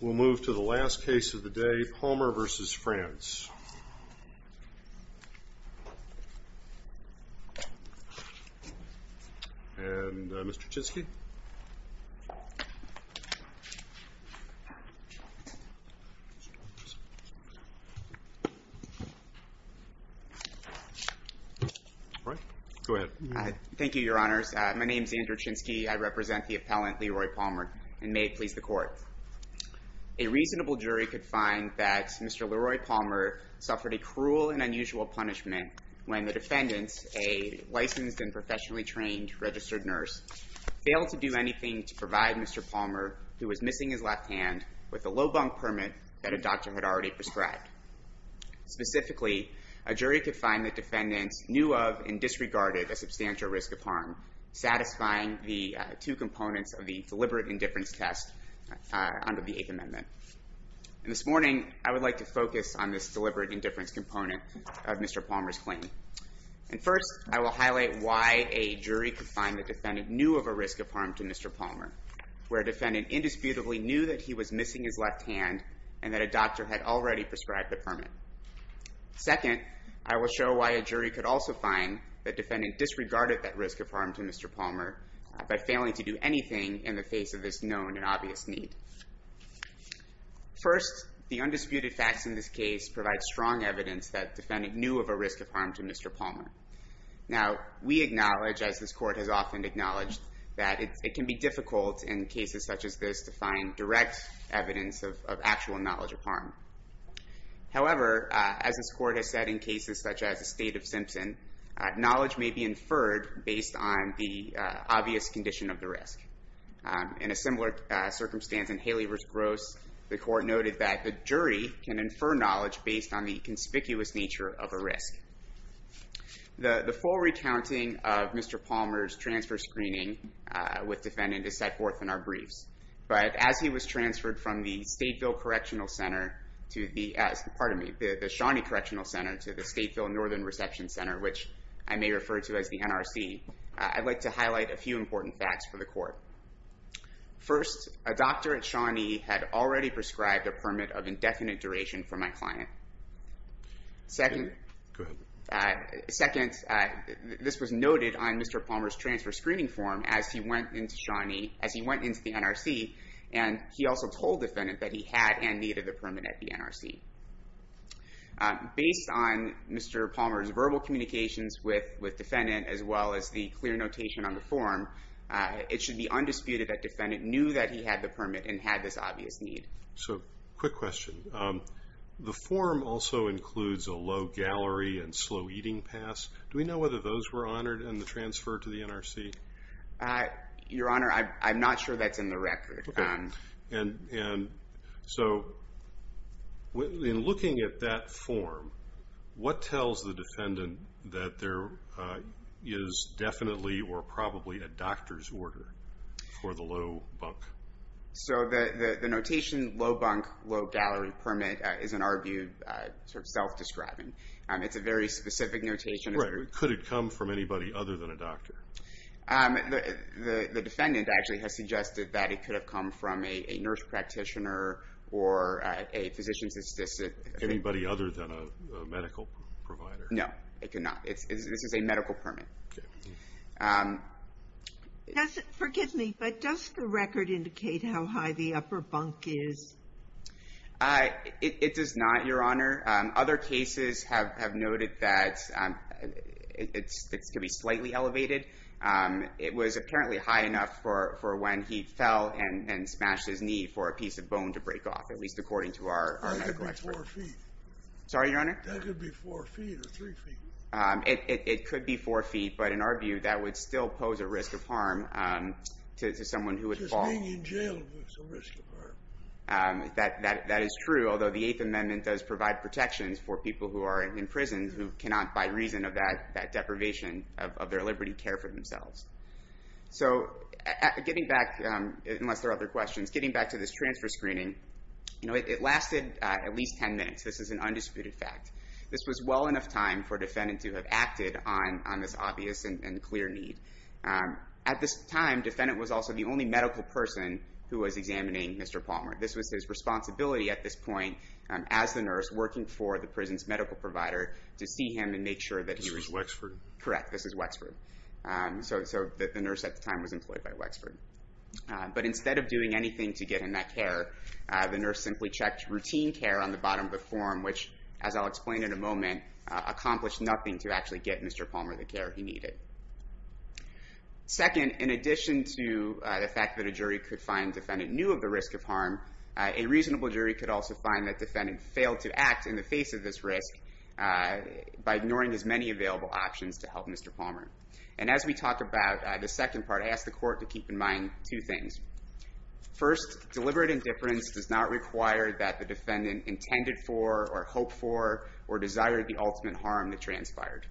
We'll move to the last case of the day, Palmer v. Franz. And, uh, Mr. Chinsky. Andrew Chinsky All right, go ahead. Andrew Chinsky Thank you, Your Honors. My name is Andrew Chinsky. I represent the appellant, Leroy Palmer, and may it please the Court. A reasonable jury could find that Mr. Leroy Palmer suffered a cruel and unusual punishment when the defendant, a licensed and professionally trained registered nurse, failed to do anything to provide Mr. Palmer, who was missing his left hand, with a low bunk permit that a doctor had already prescribed. Specifically, a jury could find the defendant knew of and disregarded a substantial risk of harm, satisfying the two components of the deliberate indifference test under the Eighth Amendment. And this morning, I would like to focus on this deliberate indifference component of Mr. Palmer's claim. And first, I will highlight why a jury could find the defendant knew of a risk of harm to Mr. Palmer, where a defendant indisputably knew that he was missing his left hand and that a doctor had already prescribed the permit. Second, I will show why a jury could also find the defendant disregarded that risk of harm to Mr. Palmer by failing to do anything in the face of this known and obvious need. First, the undisputed facts in this case provide strong evidence that the defendant knew of a risk of harm to Mr. Palmer. Now, we acknowledge, as this Court has often acknowledged, that it can be difficult in cases such as this to find direct evidence of actual knowledge of harm. However, as this Court has said in cases such as the State of Simpson, knowledge may be inferred based on the obvious condition of the risk. In a similar circumstance in Haley v. Gross, the Court noted that the jury can infer knowledge based on the conspicuous nature of a risk. The full recounting of Mr. Palmer's transfer screening with defendant is set forth in our briefs. But as he was transferred from the Shawnee Correctional Center to the Stateville Northern Reception Center, which I may refer to as the NRC, I'd like to highlight a few important facts for the Court. First, a doctor at Shawnee had already prescribed a permit of indefinite duration for my client. Second, this was noted on Mr. Palmer's transfer screening form as he went into the NRC, and he also told defendant that he had and needed the permit at the NRC. Based on Mr. Palmer's verbal communications with defendant, as well as the clear notation on the form, it should be undisputed that defendant knew that he had the permit and had this obvious need. So, quick question. The form also includes a low gallery and slow eating pass. Do we know whether those were honored in the transfer to the NRC? Your Honor, I'm not sure that's in the record. And so, in looking at that form, what tells the defendant that there is definitely or probably a doctor's order for the low bunk? So, the notation low bunk, low gallery permit is, in our view, sort of self-describing. It's a very specific notation. Right. Could it come from anybody other than a doctor? The defendant actually has suggested that it could have come from a nurse practitioner or a physician's assistant. Anybody other than a medical provider? No, it could not. This is a medical permit. Forgive me, but does the record indicate how high the upper bunk is? It does not, Your Honor. Other cases have noted that it could be slightly elevated. It was apparently high enough for when he fell and smashed his knee for a piece of bone to break off, at least according to our medical experts. That could be four feet. Sorry, Your Honor? That could be four feet or three feet. It could be four feet, but in our view, that would still pose a risk of harm to someone who would fall. Just being in jail is a risk of harm. That is true, although the Eighth Amendment does provide protections for people who are in prison who cannot, by reason of that deprivation of their liberty, care for themselves. So, getting back, unless there are other questions, getting back to this transfer screening, it lasted at least ten minutes. This is an undisputed fact. This was well enough time for a defendant to have acted on this obvious and clear need. At this time, the defendant was also the only medical person who was examining Mr. Palmer. This was his responsibility at this point, as the nurse, working for the prison's medical provider, to see him and make sure that he was— This was Wexford? Correct. This was Wexford. So, the nurse at the time was employed by Wexford. But instead of doing anything to get him that care, the nurse simply checked routine care on the bottom of the form, which, as I'll explain in a moment, accomplished nothing to actually get Mr. Palmer the care he needed. Second, in addition to the fact that a jury could find the defendant knew of the risk of harm, a reasonable jury could also find that the defendant failed to act in the face of this risk by ignoring as many available options to help Mr. Palmer. And as we talk about the second part, I ask the court to keep in mind two things. First, deliberate indifference does not require that the defendant intended for or hoped for or desired the ultimate harm that transpired.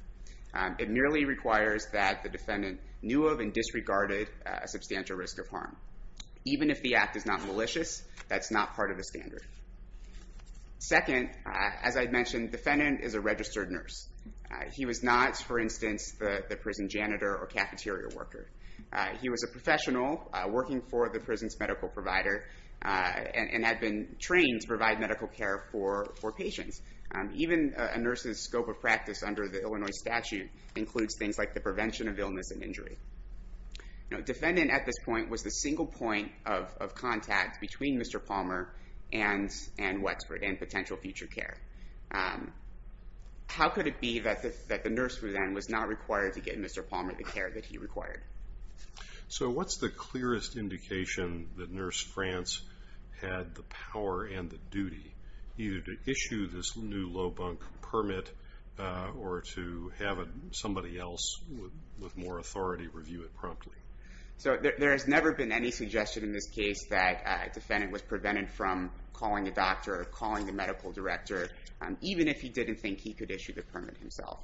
It merely requires that the defendant knew of and disregarded a substantial risk of harm. Even if the act is not malicious, that's not part of the standard. Second, as I mentioned, the defendant is a registered nurse. He was not, for instance, the prison janitor or cafeteria worker. He was a professional working for the prison's medical provider and had been trained to provide medical care for patients. Even a nurse's scope of practice under the Illinois statute includes things like the prevention of illness and injury. The defendant at this point was the single point of contact between Mr. Palmer and Wexford and potential future care. How could it be that the nurse then was not required to get Mr. Palmer the care that he required? So what's the clearest indication that Nurse France had the power and the duty either to issue this new low bunk permit or to have somebody else with more authority review it promptly? So there has never been any suggestion in this case that a defendant was prevented from calling a doctor or calling the medical director, even if he didn't think he could issue the permit himself.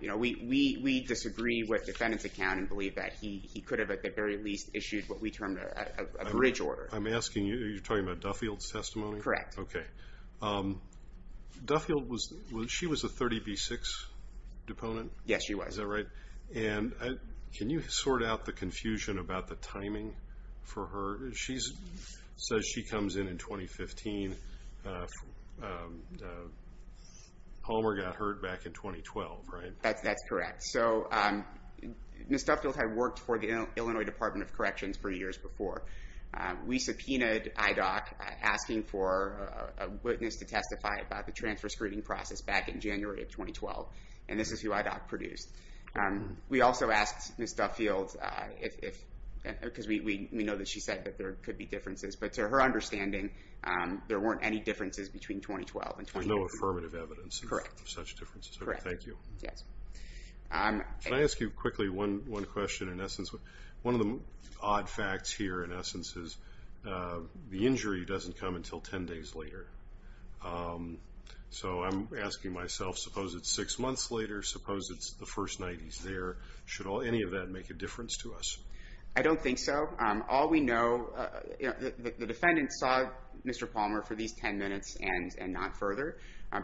We disagree with the defendant's account and believe that he could have at the very least issued what we term a bridge order. I'm asking you, are you talking about Duffield's testimony? Correct. Okay. Duffield, she was a 30B6 deponent? Yes, she was. Is that right? And can you sort out the confusion about the timing for her? She says she comes in in 2015. Palmer got hurt back in 2012, right? That's correct. So Ms. Duffield had worked for the Illinois Department of Corrections for years before. We subpoenaed IDOC asking for a witness to testify about the transfer screening process back in January of 2012, and this is who IDOC produced. We also asked Ms. Duffield, because we know that she said that there could be differences, but to her understanding, there weren't any differences between 2012 and 2015. There's no affirmative evidence of such differences? Correct. Thank you. Yes. Can I ask you quickly one question in essence? One of the odd facts here in essence is the injury doesn't come until 10 days later. So I'm asking myself, suppose it's six months later, suppose it's the first night he's there. Should any of that make a difference to us? I don't think so. All we know, the defendant saw Mr. Palmer for these 10 minutes and not further,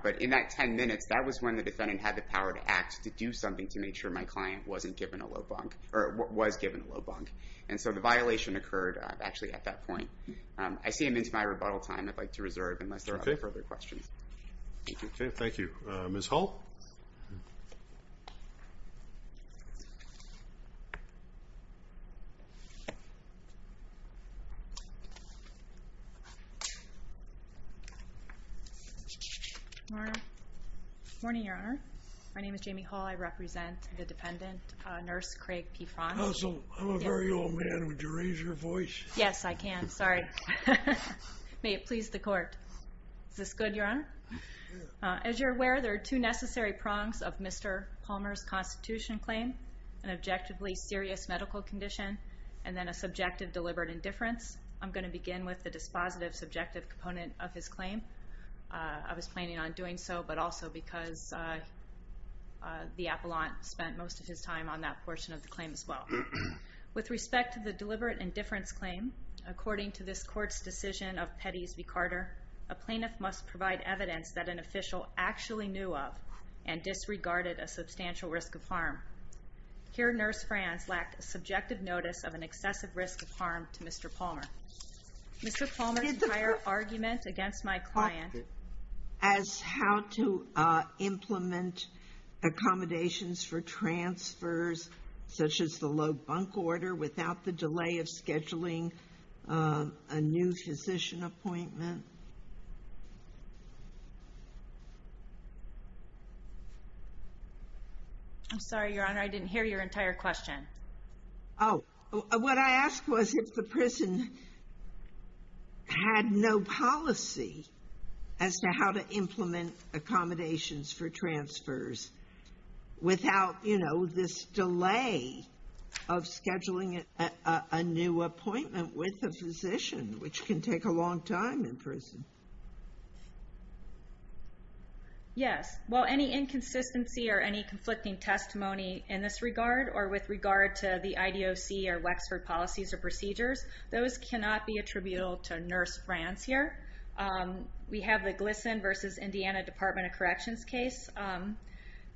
but in that 10 minutes, that was when the defendant had the power to act, to do something to make sure my client wasn't given a low bunk, or was given a low bunk. And so the violation occurred actually at that point. I see him into my rebuttal time. I'd like to reserve unless there are further questions. Okay. Thank you. Ms. Hall? Good morning, Your Honor. My name is Jamie Hall. I represent the defendant, Nurse Craig P. Franz. Counsel, I'm a very old man. Would you raise your voice? Yes, I can. Sorry. May it please the court. Is this good, Your Honor? As you're aware, there are two necessary prongs of Mr. Palmer's constitution claim, an objectively serious medical condition, and then a subjective deliberate indifference. I'm going to begin with the dispositive subjective component of his claim. I was planning on doing so, but also because the appellant spent most of his time on that portion of the claim as well. With respect to the deliberate indifference claim, according to this court's decision of Pettis v. Carter, a plaintiff must provide evidence that an official actually knew of and disregarded a substantial risk of harm. Here, Nurse Franz lacked a subjective notice of an excessive risk of harm to Mr. Palmer. Mr. Palmer's entire argument against my client as how to implement accommodations for transfers, such as the low bunk order, without the delay of scheduling a new physician appointment. I'm sorry, Your Honor, I didn't hear your entire question. Oh, what I asked was if the prison had no policy as to how to implement accommodations for transfers without, you know, this delay of scheduling a new appointment with a physician, which can take a long time in prison. Yes, well, any inconsistency or any conflicting testimony in this regard or with regard to the IDOC or Wexford policies or procedures, those cannot be attributable to Nurse Franz here. We have the Gleason v. Indiana Department of Corrections case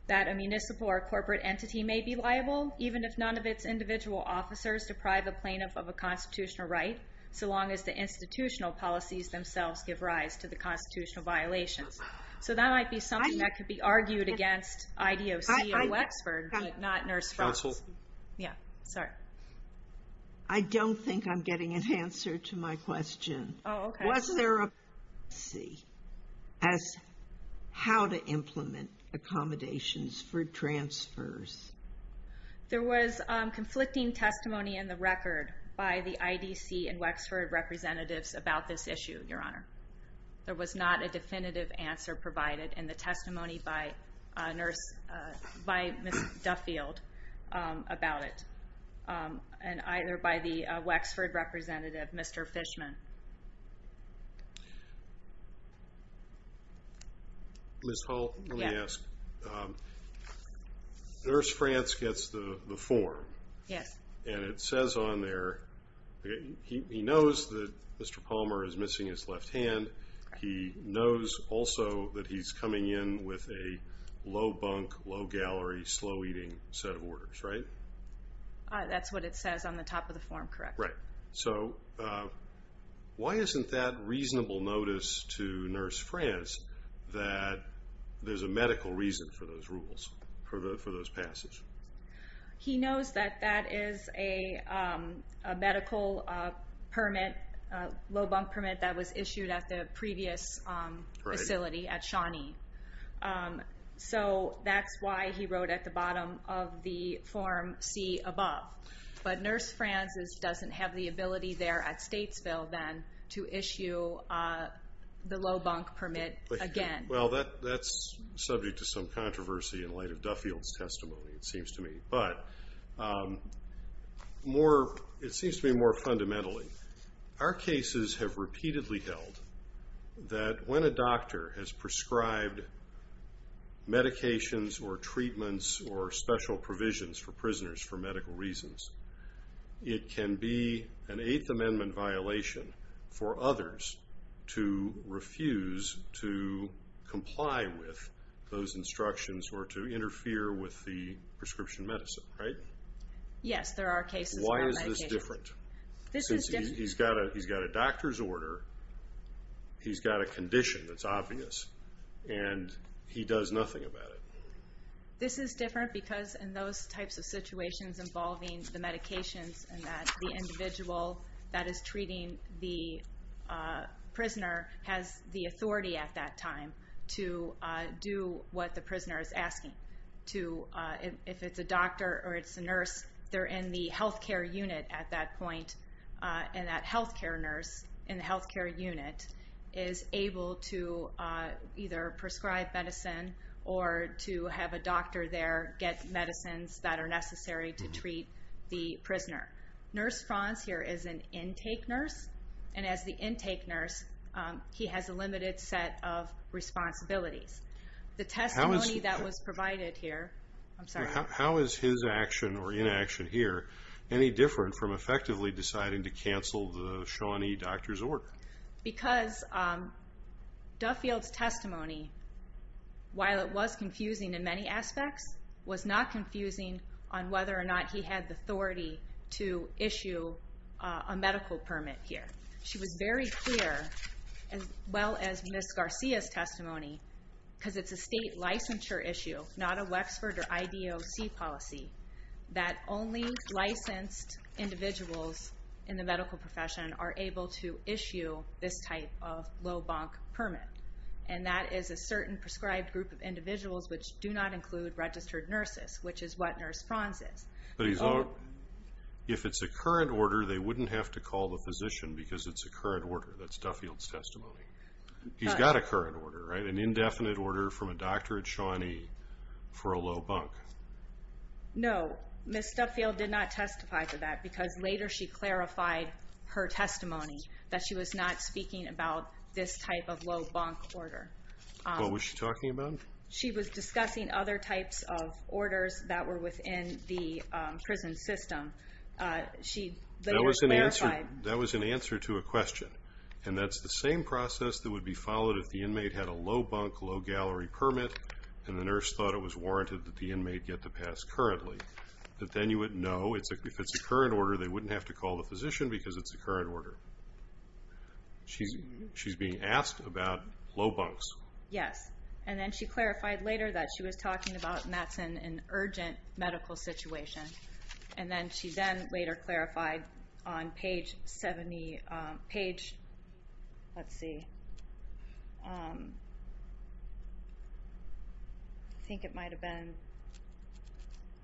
that a municipal or corporate entity may be liable even if none of its individual officers deprive a plaintiff of a constitutional right, so long as the institutional policies themselves give rise to the constitutional violations. So that might be something that could be argued against IDOC or Wexford, but not Nurse Franz. Counsel? Yeah, sorry. I don't think I'm getting an answer to my question. Oh, okay. Was there a policy as how to implement accommodations for transfers? There was conflicting testimony in the record by the IDC and Wexford representatives about this issue, Your Honor. There was not a definitive answer provided in the testimony by Nurse, by Ms. Duffield about it. And either by the Wexford representative, Mr. Fishman. Ms. Hall, let me ask. Nurse Franz gets the form. Yes. And it says on there, he knows that Mr. Palmer is missing his left hand. He knows also that he's coming in with a low bunk, low gallery, slow eating set of orders, right? That's what it says on the top of the form, correct. Right. So why isn't that reasonable notice to Nurse Franz that there's a medical reason for those rules, for those passes? He knows that that is a medical permit, low bunk permit that was issued at the previous facility at Shawnee. So that's why he wrote at the bottom of the form, see above. But Nurse Franz doesn't have the ability there at Statesville then to issue the low bunk permit again. Well, that's subject to some controversy in light of Duffield's testimony, it seems to me. But it seems to me more fundamentally. Our cases have repeatedly held that when a doctor has prescribed medications or treatments or special provisions for prisoners for medical reasons, it can be an Eighth Amendment violation for others to refuse to comply with those instructions or to interfere with the prescription medicine, right? Yes, there are cases where medications... Why is this different? This is different... Since he's got a doctor's order, he's got a condition that's obvious, and he does nothing about it. This is different because in those types of situations involving the medications and that the individual that is treating the prisoner has the authority at that time to do what the prisoner is asking. If it's a doctor or it's a nurse, they're in the health care unit at that point, and that health care nurse in the health care unit is able to either prescribe medicine or to have a doctor there get medicines that are necessary to treat the prisoner. Nurse Franz here is an intake nurse, and as the intake nurse, he has a limited set of responsibilities. The testimony that was provided here... I'm sorry. How is his action or inaction here any different from effectively deciding to cancel the Shawnee doctor's order? Because Duffield's testimony, while it was confusing in many aspects, was not confusing on whether or not he had the authority to issue a medical permit here. She was very clear, as well as Ms. Garcia's testimony, because it's a state licensure issue, not a Wexford or IDOC policy, that only licensed individuals in the medical profession are able to issue this type of low-bonk permit, and that is a certain prescribed group of individuals which do not include registered nurses, which is what Nurse Franz is. If it's a current order, they wouldn't have to call the physician because it's a current order. That's Duffield's testimony. He's got a current order, an indefinite order from a doctor at Shawnee for a low-bonk. No. Ms. Duffield did not testify to that because later she clarified her testimony that she was not speaking about this type of low-bonk order. What was she talking about? She was discussing other types of orders that were within the prison system. They were clarified. That was an answer to a question, and that's the same process that would be followed if the inmate had a low-bonk, low-gallery permit and the nurse thought it was warranted that the inmate get the pass currently. But then you would know if it's a current order, they wouldn't have to call the physician because it's a current order. She's being asked about low-bonks. Yes. And then she clarified later that she was talking about and that's in an urgent medical situation. And then she then later clarified on page 70, page, let's see. I think it might have been,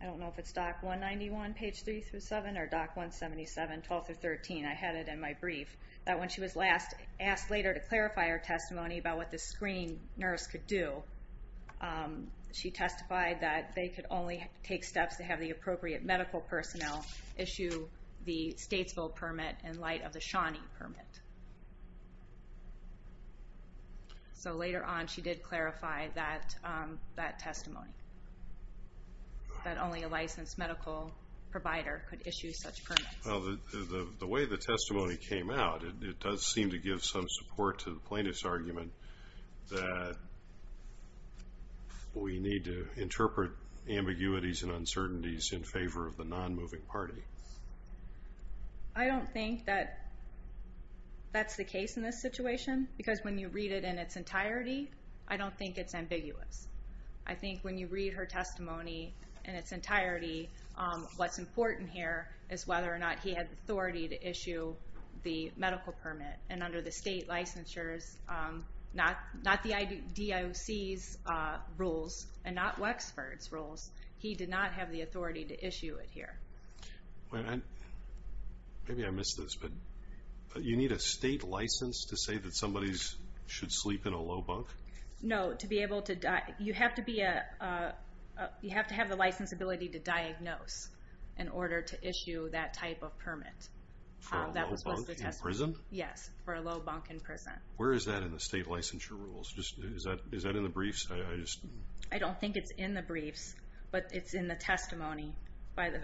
I don't know if it's doc 191, page 3-7, or doc 177, 12-13, I had it in my brief, that when she was last asked later to clarify her testimony about what the screening nurse could do, she testified that they could only take steps to have the appropriate medical personnel issue the Statesville permit in light of the Shawnee permit. So later on she did clarify that testimony, that only a licensed medical provider could issue such permits. Well, the way the testimony came out, it does seem to give some support to the plaintiff's argument that we need to interpret ambiguities and uncertainties in favor of the non-moving party. I don't think that that's the case in this situation because when you read it in its entirety, I don't think it's ambiguous. I think when you read her testimony in its entirety, what's important here is whether or not he had the authority to issue the medical permit. And under the state licensure, not the DIOC's rules and not Wexford's rules, he did not have the authority to issue it here. Maybe I missed this, but you need a state license to say that somebody should sleep in a low bunk? No, you have to have the license ability to diagnose in order to issue that type of permit. For a low bunk in prison? Yes, for a low bunk in prison. Where is that in the state licensure rules? Is that in the briefs? I don't think it's in the briefs, but it's in the testimony by the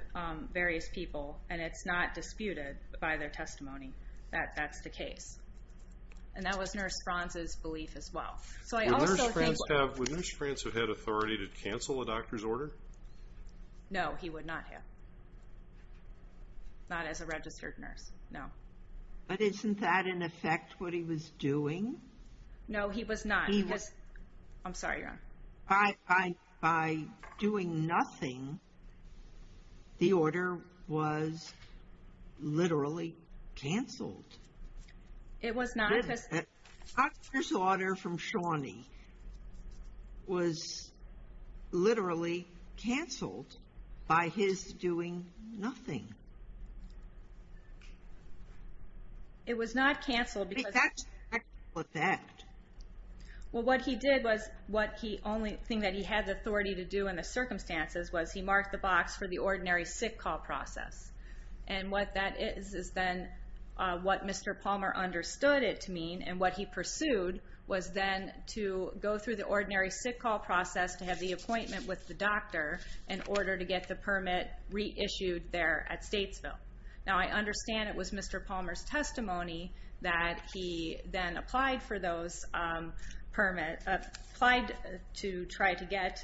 various people, and it's not disputed by their testimony that that's the case. And that was Nurse Franz's belief as well. Would Nurse Franz have had authority to cancel a doctor's order? No, he would not have. Not as a registered nurse, no. But isn't that in effect what he was doing? No, he was not. I'm sorry, Your Honor. By doing nothing, the order was literally canceled. It was not because... It was canceled by his doing nothing. It was not canceled because... But that's the actual effect. Well, what he did was, the only thing that he had the authority to do in the circumstances was he marked the box for the ordinary sick call process. And what that is is then what Mr. Palmer understood it to mean, and what he pursued was then to go through the ordinary sick call process to have the appointment with the doctor in order to get the permit reissued there at Statesville. Now, I understand it was Mr. Palmer's testimony that he then applied for those permits, applied to try to get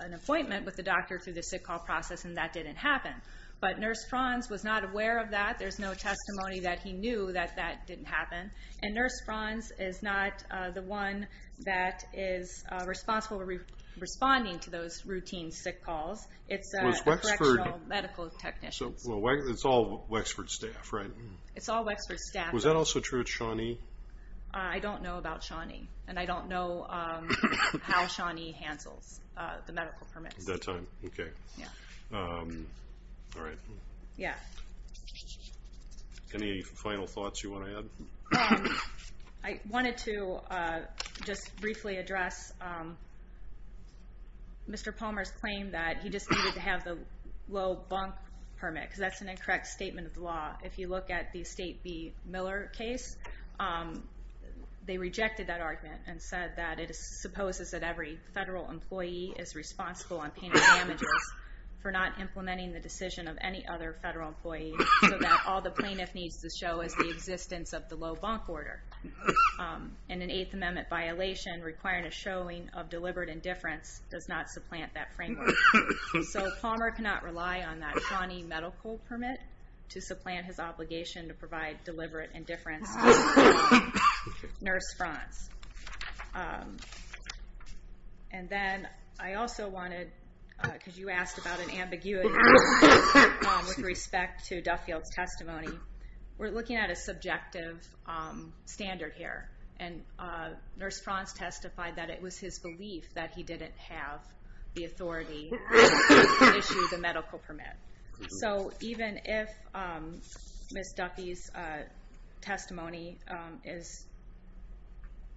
an appointment with the doctor through the sick call process, and that didn't happen. But Nurse Franz was not aware of that. There's no testimony that he knew that that didn't happen. And Nurse Franz is not the one that is responsible for responding to those routine sick calls. It's correctional medical technicians. So it's all Wexford staff, right? It's all Wexford staff. Was that also true at Shawnee? I don't know about Shawnee, and I don't know how Shawnee handles the medical permits. At that time, okay. Yeah. All right. Yeah. Any final thoughts you want to add? I wanted to just briefly address Mr. Palmer's claim that he just needed to have the low bunk permit because that's an incorrect statement of the law. If you look at the State v. Miller case, they rejected that argument and said that it supposes that every federal employee is responsible on pain and damages for not implementing the decision of any other federal employee so that all the plaintiff needs to show is the existence of the low bunk order. And an Eighth Amendment violation requiring a showing of deliberate indifference does not supplant that framework. So Palmer cannot rely on that Shawnee medical permit to supplant his obligation to provide deliberate indifference to Nurse Franz. And then I also wanted, because you asked about an ambiguity with respect to Duffield's testimony, we're looking at a subjective standard here. And Nurse Franz testified that it was his belief that he didn't have the authority to issue the medical permit. So even if Ms. Duffy's testimony is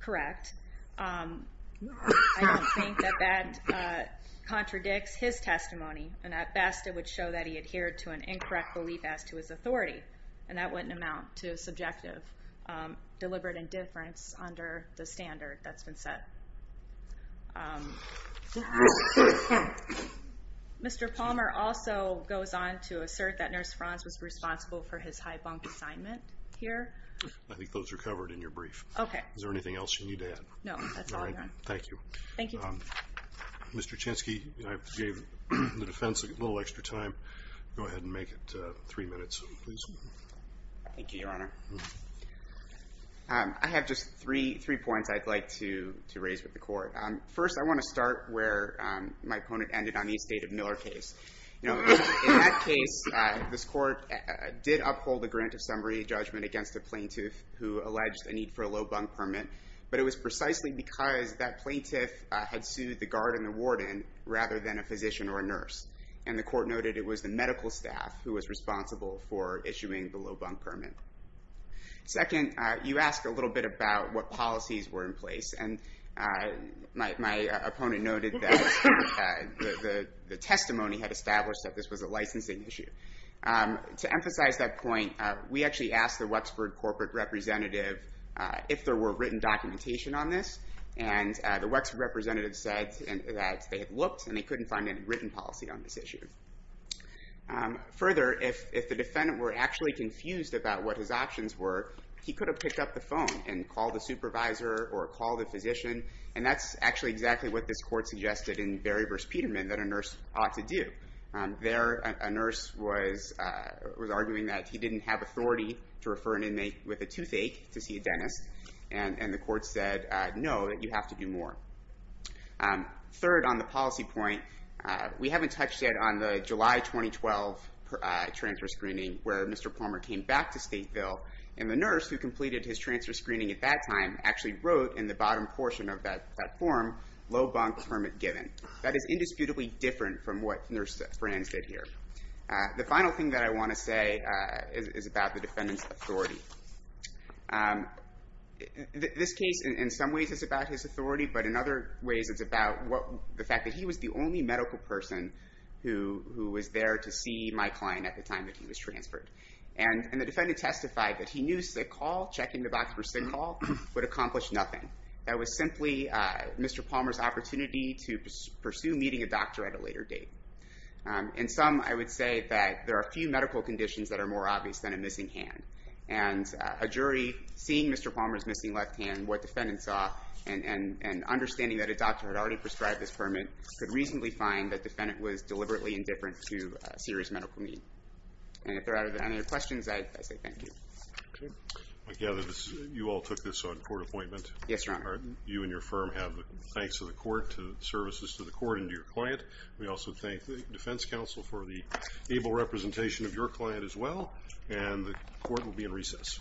correct, I don't think that that contradicts his testimony. And at best, it would show that he adhered to an incorrect belief as to his authority. And that wouldn't amount to subjective deliberate indifference under the standard that's been set. Mr. Palmer also goes on to assert that Nurse Franz was responsible for his high bunk assignment here. I think those are covered in your brief. Okay. Is there anything else you need to add? No, that's all I've got. All right. Thank you. Thank you. Mr. Chansky, I gave the defense a little extra time. Go ahead and make it three minutes, please. Thank you, Your Honor. I have just three points I'd like to raise with the court. First, I want to start where my opponent ended on the estate of Miller case. In that case, this court did uphold the grant of summary judgment against a plaintiff who alleged a need for a low bunk permit. But it was precisely because that plaintiff had sued the guard and the warden rather than a physician or a nurse. And the court noted it was the medical staff who was responsible for issuing the low bunk permit. Second, you asked a little bit about what policies were in place. And my opponent noted that the testimony had established that this was a licensing issue. To emphasize that point, we actually asked the Wexford corporate representative if there were written documentation on this. And the Wexford representative said that they had looked and they couldn't find any written policy on this issue. Further, if the defendant were actually confused about what his options were, he could have picked up the phone and called the supervisor or called the physician. And that's actually exactly what this court suggested in Berry v. Peterman that a nurse ought to do. There, a nurse was arguing that he didn't have authority to refer an inmate with a toothache to see a dentist. And the court said, no, that you have to do more. Third, on the policy point, we haven't touched yet on the July 2012 transfer screening where Mr. Palmer came back to Stateville. And the nurse who completed his transfer screening at that time actually wrote in the bottom portion of that form, low bunk permit given. That is indisputably different from what Nurse Brand said here. The final thing that I want to say is about the defendant's authority. This case, in some ways, is about his authority. But in other ways, it's about the fact that he was the only medical person who was there to see my client at the time that he was transferred. And the defendant testified that he knew sick hall, checking the box for sick hall, would accomplish nothing. That was simply Mr. Palmer's opportunity to pursue meeting a doctor at a later date. In sum, I would say that there are few medical conditions that are more obvious than a missing hand. And a jury, seeing Mr. Palmer's missing left hand, what defendant saw, and understanding that a doctor had already prescribed this permit, could reasonably find that defendant was deliberately indifferent to serious medical need. And if there are any other questions, I say thank you. I gather you all took this on court appointment. Yes, Your Honor. You and your firm have thanks to the court, to services to the court, and to your client. We also thank the defense counsel for the able representation of your client as well. And the court will be in recess.